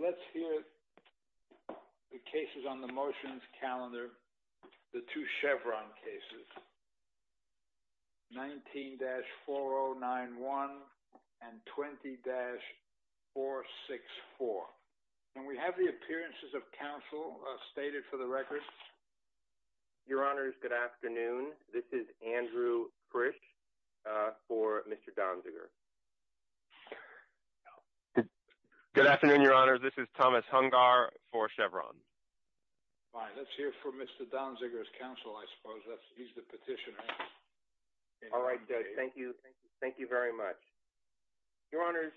So let's hear the cases on the motions calendar, the two Chevron cases, 19-4091 and 20-464. And we have the appearances of counsel stated for the record. Your honors, good afternoon. This is Andrew Frisch for Mr. Donziger. Good afternoon, your honors. This is Thomas Hungar for Chevron. Fine. Let's hear from Mr. Donziger's counsel, I suppose. He's the petitioner. All right, judge. Thank you. Thank you. Thank you very much. Your honors,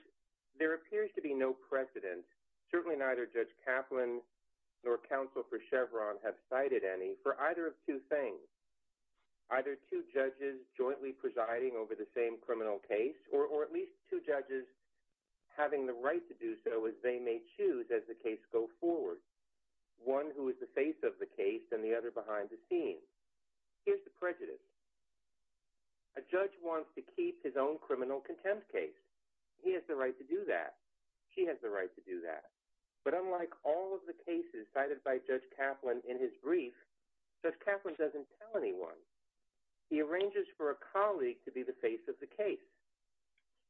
there appears to be no precedent, certainly neither Judge Kaplan nor counsel for Chevron have cited any, for either of two things. Either two judges jointly presiding over the same criminal case, or at least two judges having the right to do so as they may choose. One who is the face of the case and the other behind the scenes. Here's the prejudice. A judge wants to keep his own criminal contempt case. He has the right to do that. She has the right to do that. But unlike all of the cases cited by Judge Kaplan in his brief, Judge Kaplan doesn't tell anyone. He arranges for a colleague to be the face of the case.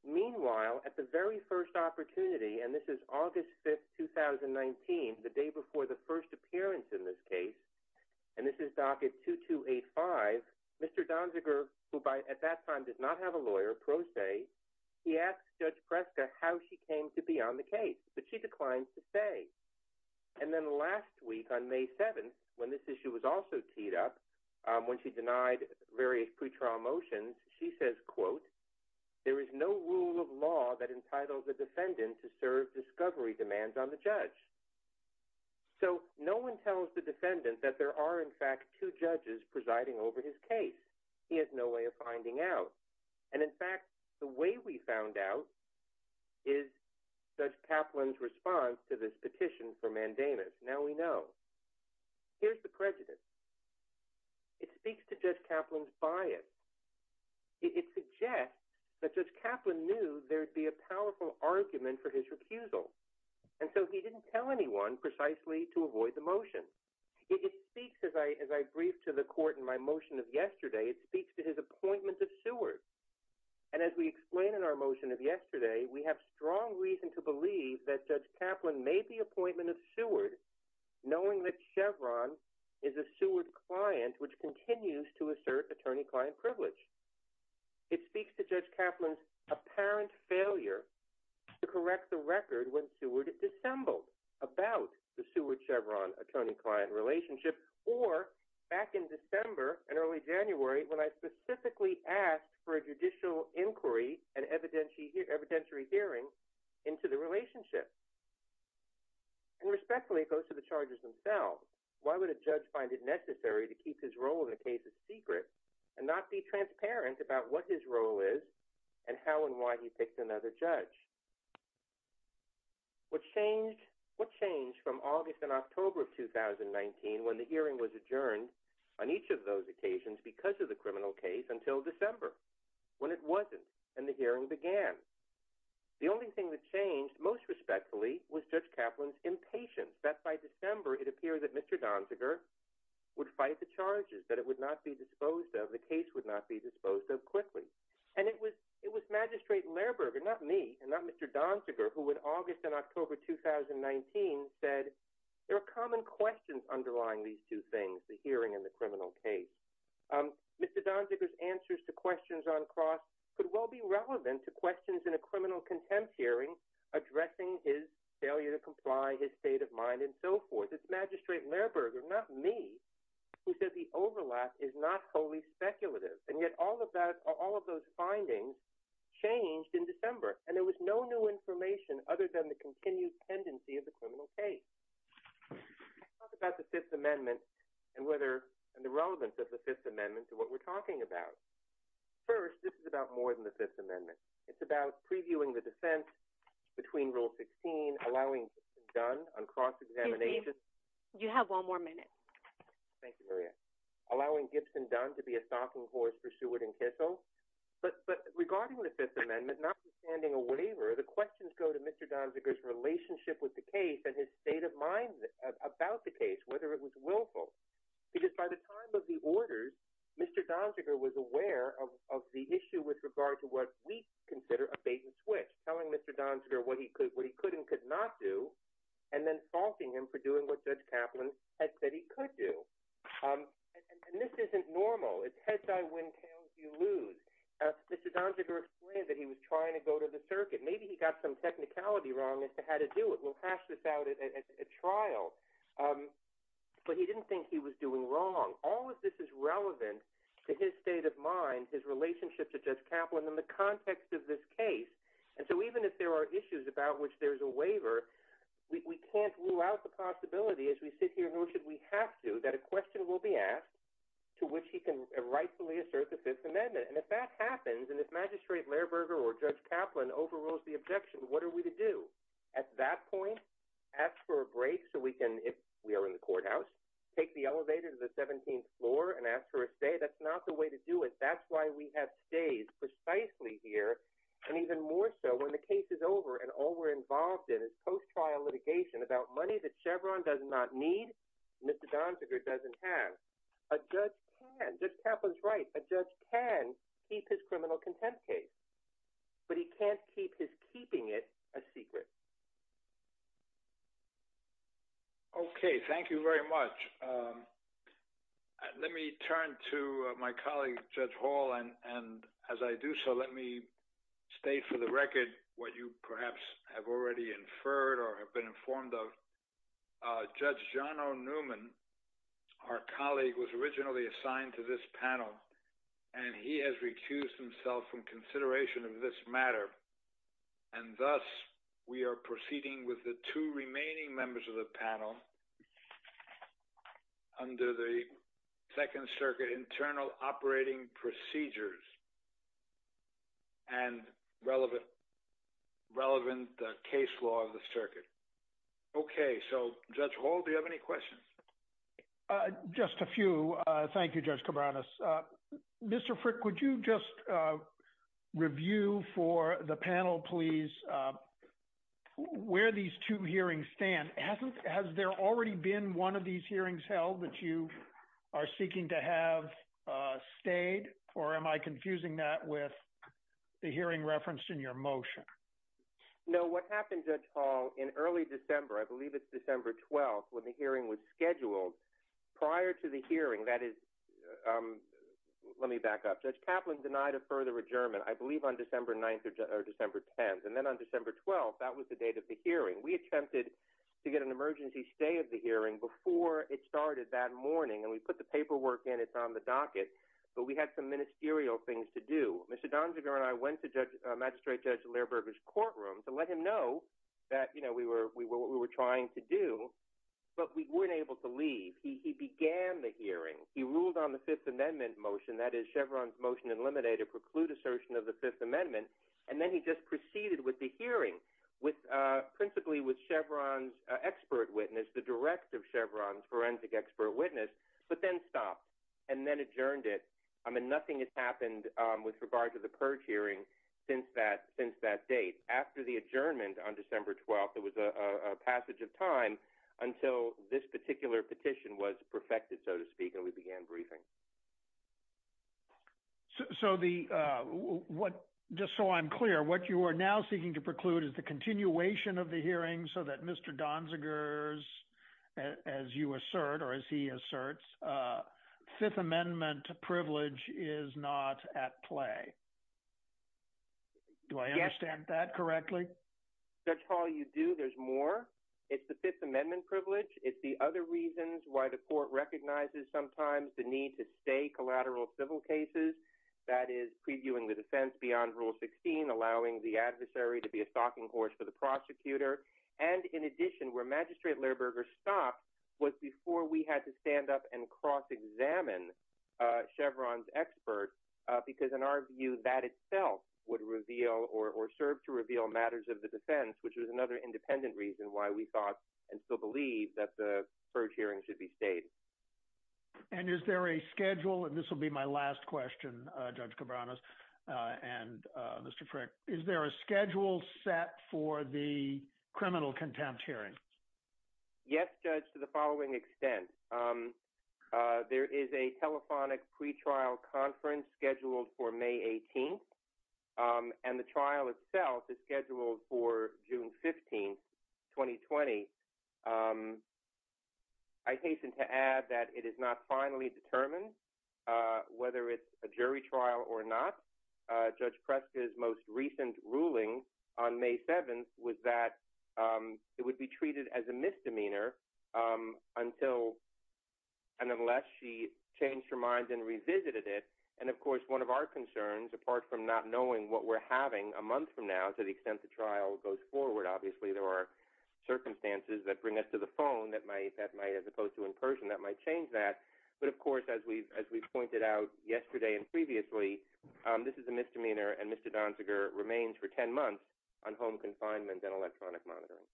Meanwhile, at the very first opportunity, and this is August 5th, 2019, the day before the first appearance in this case, and this is docket 2285, Mr. Donziger, who by at that time did not have a lawyer, pro se, he asked Judge Preska how she came to be on the case. But she declined to say. And then last week on May 7th, when this issue was also teed up, when she denied various pre-trial motions, she says, quote, there is no rule of law that entitles a defendant to serve discovery demands on the judge. So no one tells the defendant that there are in fact two judges presiding over his case. He has no way of finding out. And in fact, the way we found out is Judge Kaplan's response to this petition for mandamus. Now we know. Here's the prejudice. It speaks to Judge Kaplan's bias. It suggests that Judge Kaplan knew there'd be a powerful argument for his recusal. And so he didn't tell anyone precisely to avoid the motion. It speaks, as I briefed to the court in my motion of yesterday, it speaks to his appointment of Seward. And as we explain in our motion of yesterday, we have strong reason to believe that Judge Chevron is a Seward client, which continues to assert attorney-client privilege. It speaks to Judge Kaplan's apparent failure to correct the record when Seward dissembled about the Seward-Chevron attorney-client relationship, or back in December and early January, when I specifically asked for a judicial inquiry and evidentiary hearing into the relationship. And respectfully, it goes to the charges themselves. Why would a judge find it necessary to keep his role in a case a secret and not be transparent about what his role is and how and why he picked another judge? What changed from August and October of 2019, when the hearing was adjourned on each of those occasions because of the criminal case, until December, when it wasn't and the hearing began? The only thing that changed, most respectfully, was Judge Kaplan's impatience that by December it appeared that Mr. Donziger would fight the charges, that it would not be disposed of, the case would not be disposed of quickly. And it was Magistrate Lehrberger, not me, and not Mr. Donziger, who in August and October 2019 said, there are common questions underlying these two things, the hearing and the criminal case. Mr. Donziger's answers to questions on cross could well be relevant to questions in a criminal contempt hearing addressing his failure to comply, his state of mind, and so forth. It's Magistrate Lehrberger, not me, who said the overlap is not wholly speculative. And yet all of those findings changed in December, and there was no new information other than the continued tendency of the criminal case. Let's talk about the Fifth Amendment and the relevance of the Fifth Amendment to what we're talking about. First, this is about more than the Fifth Amendment. It's about previewing the defense between Rule 16, allowing Gibson Dunn on cross-examination Excuse me. You have one more minute. Thank you, Maria. Allowing Gibson Dunn to be a stalking horse for Seward and Kissel. But regarding the Fifth Amendment, notwithstanding a waiver, the questions go to Mr. Donziger's relationship with the case and his state of mind about the case, whether it was willful. Because by the time of the orders, Mr. Donziger was aware of the issue with regard to what we consider a bait-and-switch, telling Mr. Donziger what he could and could not do, and then faulting him for doing what Judge Kaplan had said he could do. And this isn't normal. It's heads I win, tails you lose. Mr. Donziger explained that he was trying to go to the circuit. Maybe he got some technicality wrong as to how to do it. We'll hash this out at trial. But he didn't think he was doing wrong. All of this is relevant to his state of mind, his relationship to Judge Kaplan in the context of this case. And so even if there are issues about which there's a waiver, we can't rule out the possibility as we sit here, nor should we have to, that a question will be asked to which he can rightfully assert the Fifth Amendment. And if that happens, and if Magistrate Lehrberger or Judge Kaplan overrules the objection, what are we to do? At that point, ask for a break so we can, if we are in the courthouse, take the elevator to the 17th floor and ask for a stay? That's not the way to do it. That's why we have stays precisely here. And even more so, when the case is over and all we're involved in is post-trial litigation about money that Chevron does not need, Mr. Donziger doesn't have, a judge can. Judge Kaplan's right. A judge can keep his criminal contempt case, but he can't keep his keeping it a secret. Okay. Thank you very much. Let me turn to my colleague, Judge Hall, and as I do so, let me state for the record what you perhaps have already inferred or have been informed of. Judge John O. Newman, our colleague, was originally assigned to this panel, and he has recused himself from consideration of this matter. And thus, we are proceeding with the two remaining members of the panel under the Second Circuit internal operating procedures and relevant case law of the circuit. Okay. So, Judge Hall, do you have any questions? Just a few. Thank you, Judge Cabranes. Mr. Frick, would you just review for the panel, please, where these two hearings stand? Has there already been one of these hearings held that you are seeking to have stayed, or am I confusing that with the hearing referenced in your motion? No. So, what happened, Judge Hall, in early December, I believe it's December 12th, when the hearing was scheduled, prior to the hearing, that is, let me back up, Judge Kaplan denied a further adjournment, I believe on December 9th or December 10th, and then on December 12th, that was the date of the hearing. We attempted to get an emergency stay of the hearing before it started that morning, and we put the paperwork in, it's on the docket, but we had some ministerial things to do. Mr. Donjaver and I went to Magistrate Judge Lehrberger's courtroom to let him know that we were trying to do, but we weren't able to leave. He began the hearing. He ruled on the Fifth Amendment motion, that is, Chevron's motion in limine to preclude assertion of the Fifth Amendment, and then he just proceeded with the hearing, principally with Chevron's expert witness, the direct of Chevron's forensic expert witness, but then stopped, and then adjourned it. I mean, nothing has happened with regard to the purge hearing since that date. After the adjournment on December 12th, there was a passage of time until this particular petition was perfected, so to speak, and we began briefing. So, just so I'm clear, what you are now seeking to preclude is the continuation of the hearing so that Mr. Donziger's, as you assert or as he asserts, Fifth Amendment privilege is not at play. Do I understand that correctly? Judge Hall, you do. There's more. It's the Fifth Amendment privilege. It's the other reasons why the court recognizes sometimes the need to stay collateral civil cases, that is, previewing the defense beyond Rule 16, allowing the adversary to be a stalking source for the prosecutor, and in addition, where Magistrate Lehrberger stopped was before we had to stand up and cross-examine Chevron's expert, because in our view, that itself would reveal or serve to reveal matters of the defense, which was another independent reason why we thought and still believe that the purge hearing should be stayed. And is there a schedule, and this will be my last question, Judge Cabranes and Mr. Frick, is there a schedule set for the criminal contempt hearing? Yes, Judge, to the following extent. There is a telephonic pretrial conference scheduled for May 18th, and the trial itself is scheduled for June 15th, 2020. I hasten to add that it is not finally determined whether it's a jury trial or not. Judge Preska's most recent ruling on May 7th was that it would be treated as a misdemeanor until and unless she changed her mind and revisited it, and of course, one of our concerns, apart from not knowing what we're having a month from now to the extent the trial goes forward, obviously there are circumstances that bring us to the phone that might, as opposed to in person, that might change that, but of course, as we've pointed out yesterday and previously, this is a misdemeanor, and Mr. Donziger remains for 10 months on home confinement and electronic monitoring.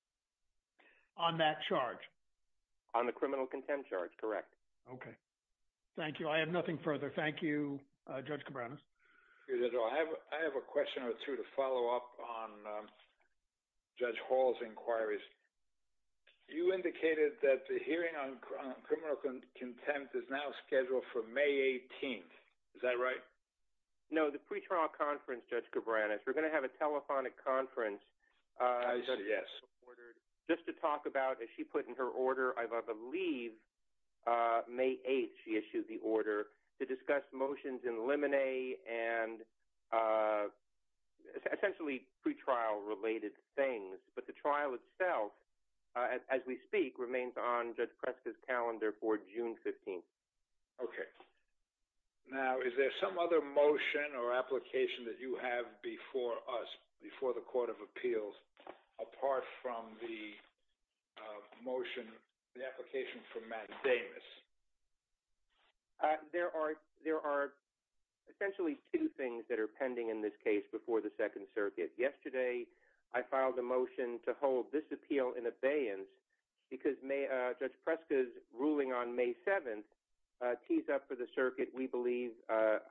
On that charge? On the criminal contempt charge, correct. Okay, thank you. I have nothing further. Thank you, Judge Cabranes. I have a question or two to follow up on Judge Hall's inquiries. You indicated that the hearing on criminal contempt is now scheduled for May 18th. Is that right? No, the pretrial conference, Judge Cabranes. We're going to have a telephonic conference. I said yes. Just to talk about, as she put in her order, I believe May 8th she issued the order to As we speak, remains on Judge Preska's calendar for June 15th. Okay. Now, is there some other motion or application that you have before us, before the Court of Appeals, apart from the motion, the application from Matt Davis? There are essentially two things that are pending in this case before the Second Circuit. Yesterday, I filed a motion to hold this appeal in abeyance because Judge Preska's ruling on May 7th tees up for the Circuit, we believe,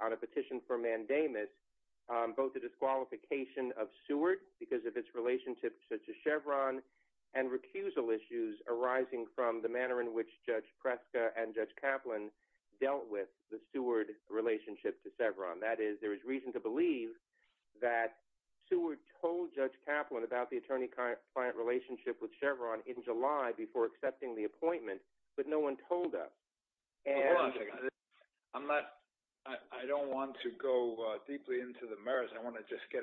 on a petition for mandamus both the disqualification of Seward because of its relationship to Chevron and recusal issues arising from the manner in which Judge Preska and Judge Kaplan dealt with the Seward relationship to Chevron. That is, there is reason to believe that Seward told Judge Kaplan about the attorney-client relationship with Chevron in July before accepting the appointment, but no one told us. Hold on a second. I don't want to go deeply into the merits. I want to just get,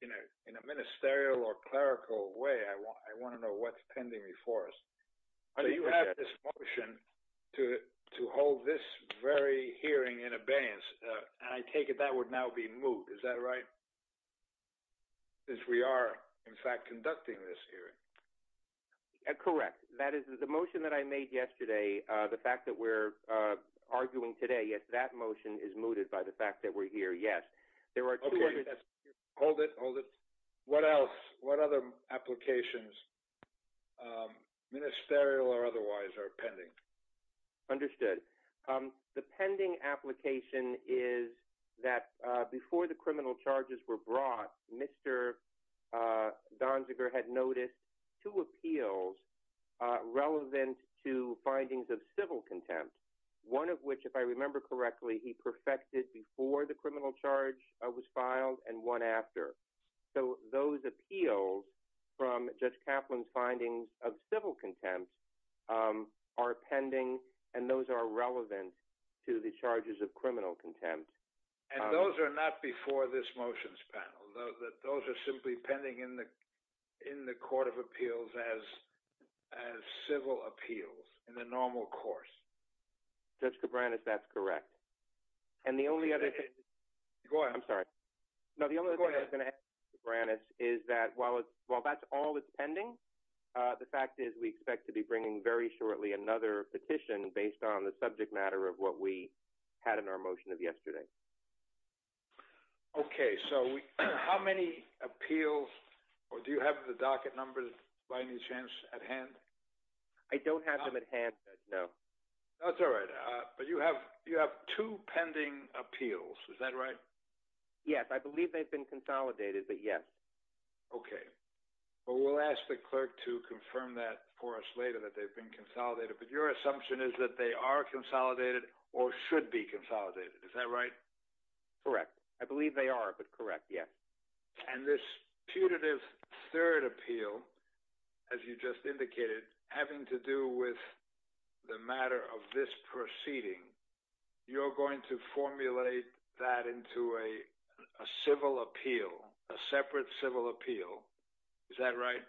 in a ministerial or clerical way, I want to know what's pending before us. So you have this motion to hold this very hearing in abeyance, and I take it that would now be moot, is that right? Since we are, in fact, conducting this hearing. Correct. That is, the motion that I made yesterday, the fact that we're arguing today, yes, that motion is mooted by the fact that we're here, yes. Okay, hold it, hold it. What else? What other applications, ministerial or otherwise, are pending? Understood. The pending application is that before the criminal charges were brought, Mr. Donziger had noticed two appeals relevant to findings of civil contempt, one of which, if I remember correctly, he perfected before the criminal charge was filed and one after. So those appeals from Judge Kaplan's findings of civil contempt are pending, and those are relevant to the charges of criminal contempt. And those are not before this motions panel. Those are simply pending in the court of appeals as civil appeals in the normal course. Judge Cabran, if that's correct. And the only other thing... Go ahead. I'm sorry. Go ahead. No, the only other thing I was going to ask, Mr. Branis, is that while that's all that's pending, the fact is we expect to be bringing very shortly another petition based on the subject matter of what we had in our motion of yesterday. Okay, so how many appeals, or do you have the docket numbers by any chance at hand? I don't have them at hand, no. That's all right. But you have two pending appeals. Is that right? Yes, I believe they've been consolidated, but yes. Okay. Well, we'll ask the clerk to confirm that for us later that they've been consolidated. But your assumption is that they are consolidated or should be consolidated. Is that right? Correct. I believe they are, but correct, yes. And this putative third appeal, as you just indicated, having to do with the matter of this proceeding, you're going to formulate that into a civil appeal, a separate civil appeal. Is that right?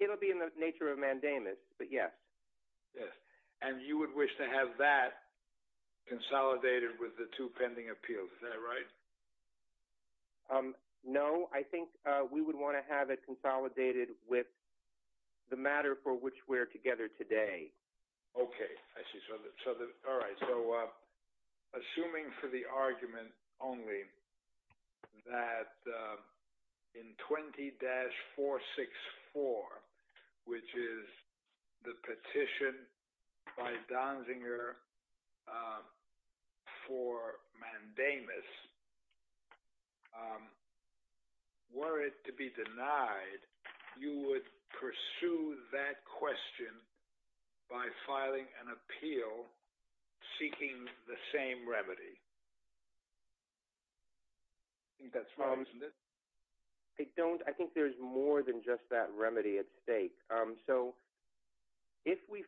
It'll be in the nature of mandamus, but yes. Yes. And you would wish to have that consolidated with the two pending appeals. Is that right? No, I think we would want to have it consolidated with the matter for which we're together today. Okay. I see. So, all right. So, assuming for the argument only that in 20-464, which is the petition by Donziger for mandamus, were it to be denied, you would pursue that question by filing an appeal seeking the same remedy. I think that's wrong, isn't it? I don't. I think there's more than just that remedy at stake. So, if we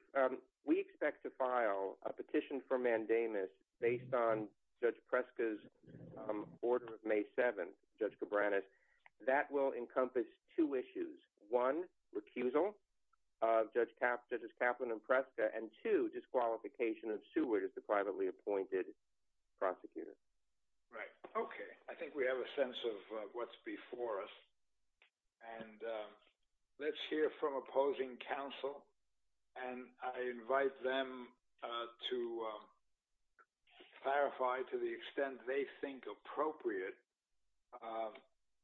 expect to file a petition for mandamus based on Judge Preska's order of May 7th, Judge Cabranes, that will encompass two issues. One, recusal of Judges Kaplan and Preska, and two, disqualification of Seward as the privately appointed prosecutor. Right. Okay. I think we have a sense of what's before us. And let's hear from opposing counsel, and I invite them to clarify to the extent they think appropriate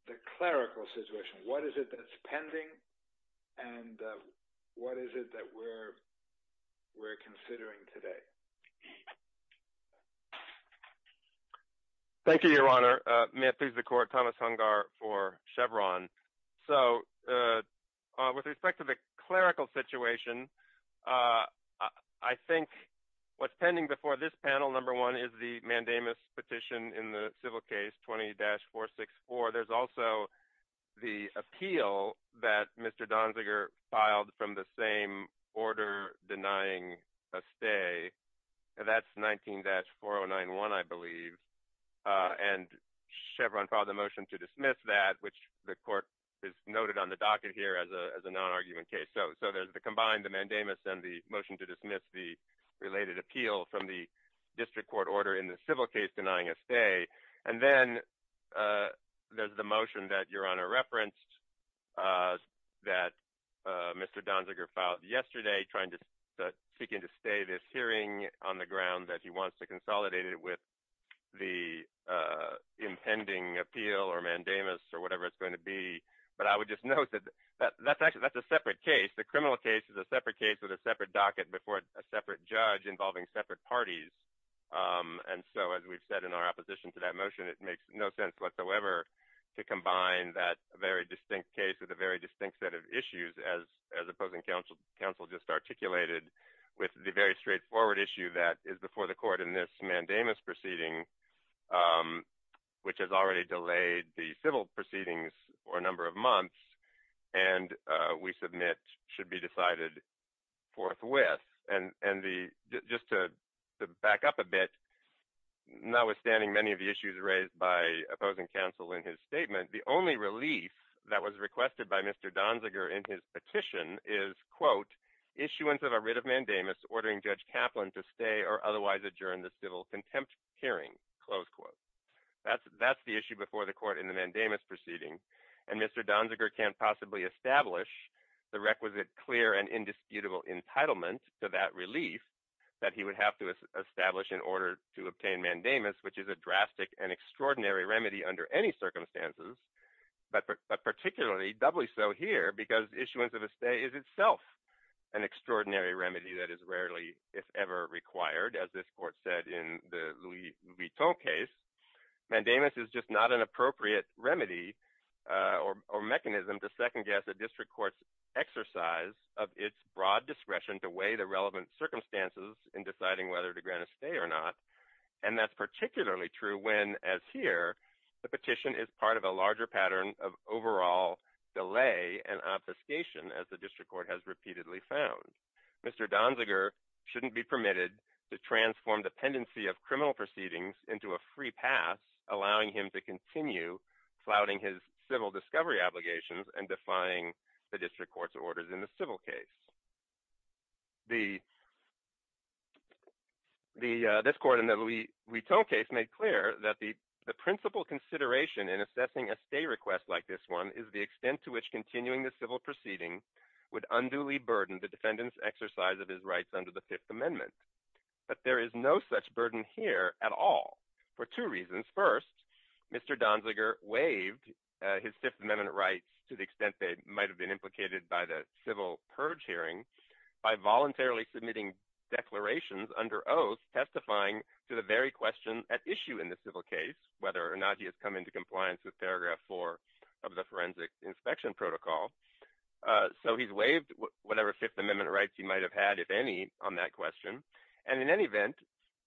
the clerical situation. What is it that's pending, and what is it that we're considering today? Thank you, Your Honor. May it please the Court. Thomas Hungar for Chevron. So, with respect to the clerical situation, I think what's pending before this panel, number one, is the mandamus petition in the civil case, 20-464. There's also the appeal that Mr. Donziger filed from the same order denying a stay. That's 19-4091, I believe. And Chevron filed a motion to dismiss that, which the Court has noted on the docket here as a non-argument case. So, there's the combined mandamus and the motion to dismiss the related appeal from the district court order in the civil case denying a stay. And then there's the motion that Your Honor referenced that Mr. Donziger filed yesterday seeking to stay this hearing on the ground that he wants to consolidate it with the impending appeal or mandamus or whatever it's going to be. But I would just note that that's a separate case. The criminal case is a separate case with a separate docket before a separate judge involving separate parties. And so, as we've said in our opposition to that motion, it makes no sense whatsoever to combine that very distinct case with a very distinct set of issues as opposing counsel just articulated with the very straightforward issue that is before the Court in this mandamus proceeding, which has already delayed the civil proceedings for a number of months and we submit should be decided forthwith. And just to back up a bit, notwithstanding many of the issues raised by opposing counsel in his statement, the only relief that was requested by Mr. Donziger in his petition is, quote, issuance of a writ of mandamus ordering Judge Kaplan to stay or otherwise adjourn the civil contempt hearing, close quote. That's the issue before the Court in the mandamus proceeding. And Mr. Donziger can't possibly establish the requisite clear and indisputable entitlement to that relief that he would have to establish in order to obtain mandamus, which is a drastic and extraordinary remedy under any circumstances, but particularly doubly so here because issuance of a stay is itself an extraordinary remedy that is rarely, if ever, required, as this Court said in the Louis Vuitton case. Mandamus is just not an appropriate remedy or mechanism to second-guess a district court's exercise of its broad discretion to weigh the relevant circumstances in deciding whether to grant a stay or not, and that's particularly true when, as here, the petition is part of a larger pattern of overall delay and obfuscation, as the district court has repeatedly found. Mr. Donziger shouldn't be permitted to transform dependency of criminal proceedings into a free pass, allowing him to continue flouting his civil discovery obligations and defying the district court's orders in the civil case. This Court in the Louis Vuitton case made clear that the principal consideration in assessing a stay request like this one is the extent to which continuing the civil proceeding would unduly burden the defendant's exercise of his rights under the Fifth Amendment, but there is no such burden here at all for two reasons. First, Mr. Donziger waived his Fifth Amendment rights to the extent they might have been implicated by the civil purge hearing by voluntarily submitting declarations under oath testifying to the very question at issue in the civil case, whether or not he has come into compliance with paragraph 4 of the forensic inspection protocol. So he's waived whatever Fifth Amendment rights he might have had, if any, on that question, and in any event,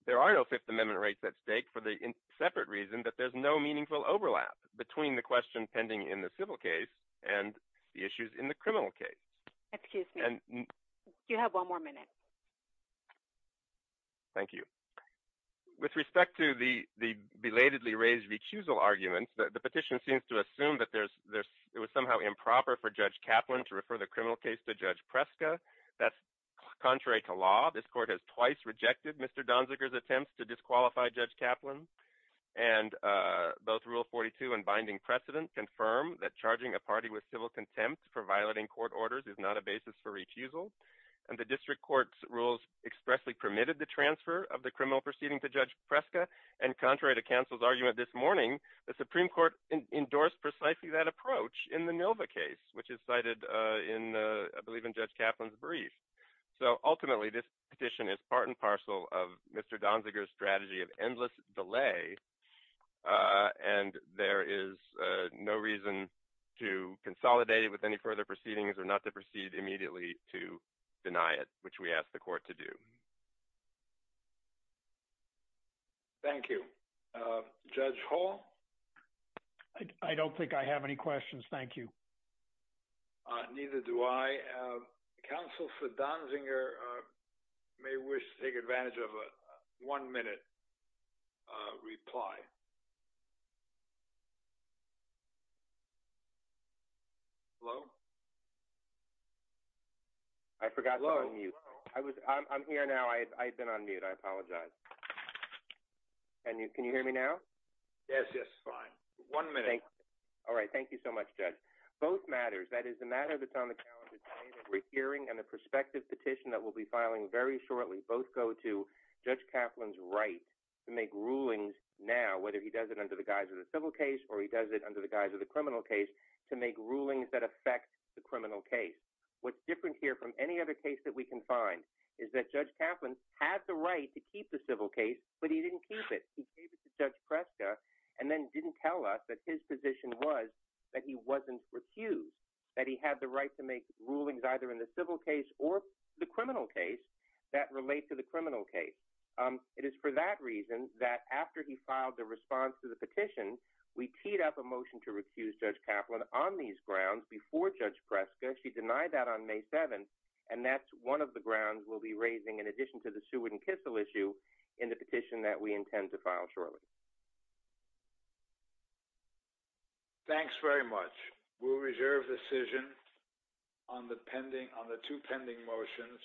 there are no Fifth Amendment rights at stake for the separate reason that there's no meaningful overlap between the question pending in the civil case and the issues in the criminal case. Excuse me. You have one more minute. Thank you. With respect to the belatedly raised recusal arguments, the petition seems to assume that it was somehow improper for Judge Kaplan to refer the criminal case to Judge Preska. That's contrary to law. This Court has twice rejected Mr. Donziger's attempts to disqualify Judge Kaplan, and both Rule 42 and binding precedent confirm that charging a party with civil contempt for violating court orders is not a basis for recusal, and the district court's rules expressly permitted the transfer of the criminal proceeding to Judge Preska, and contrary to counsel's argument this morning, the Supreme Court endorsed precisely that approach in the Nova case, which is cited I believe in Judge Kaplan's brief. So ultimately, this petition is part and parcel of Mr. Donziger's strategy of endless delay, and there is no reason to consolidate it with any further proceedings or not to proceed immediately to deny it, which we ask the Court to do. Thank you. Judge Hall? I don't think I have any questions. Thank you. Neither do I. Counsel for Donziger may wish to take advantage of a one-minute reply. Hello? I forgot to unmute. I'm here now. I've been on mute. I apologize. Can you hear me now? Yes, yes, fine. One minute. All right. Thank you so much, Judge. Both matters, that is, the matter that's on the calendar today, the hearing and the prospective petition that we'll be filing very shortly, both go to Judge Kaplan's right to make rulings now, whether he does it under the guise of the civil case or he does it under the guise of the criminal case, to make rulings that affect the criminal case. What's different here from any other case that we can find is that Judge Kaplan had the right to keep the civil case, but he didn't keep it. He gave it to Judge Preska and then didn't tell us that his position was that he wasn't recused, that he had the right to make rulings either in the civil case or the criminal case that relate to the criminal case. It is for that reason that after he filed the response to the petition, we teed up a motion to recuse Judge Kaplan on these grounds before Judge Preska. She denied that on May 7th, and that's one of the grounds we'll be raising in addition to the Seward and Kissel issue in the petition that we intend to file shortly. Thanks very much. We'll reserve the decision on the pending, on the two pending motions.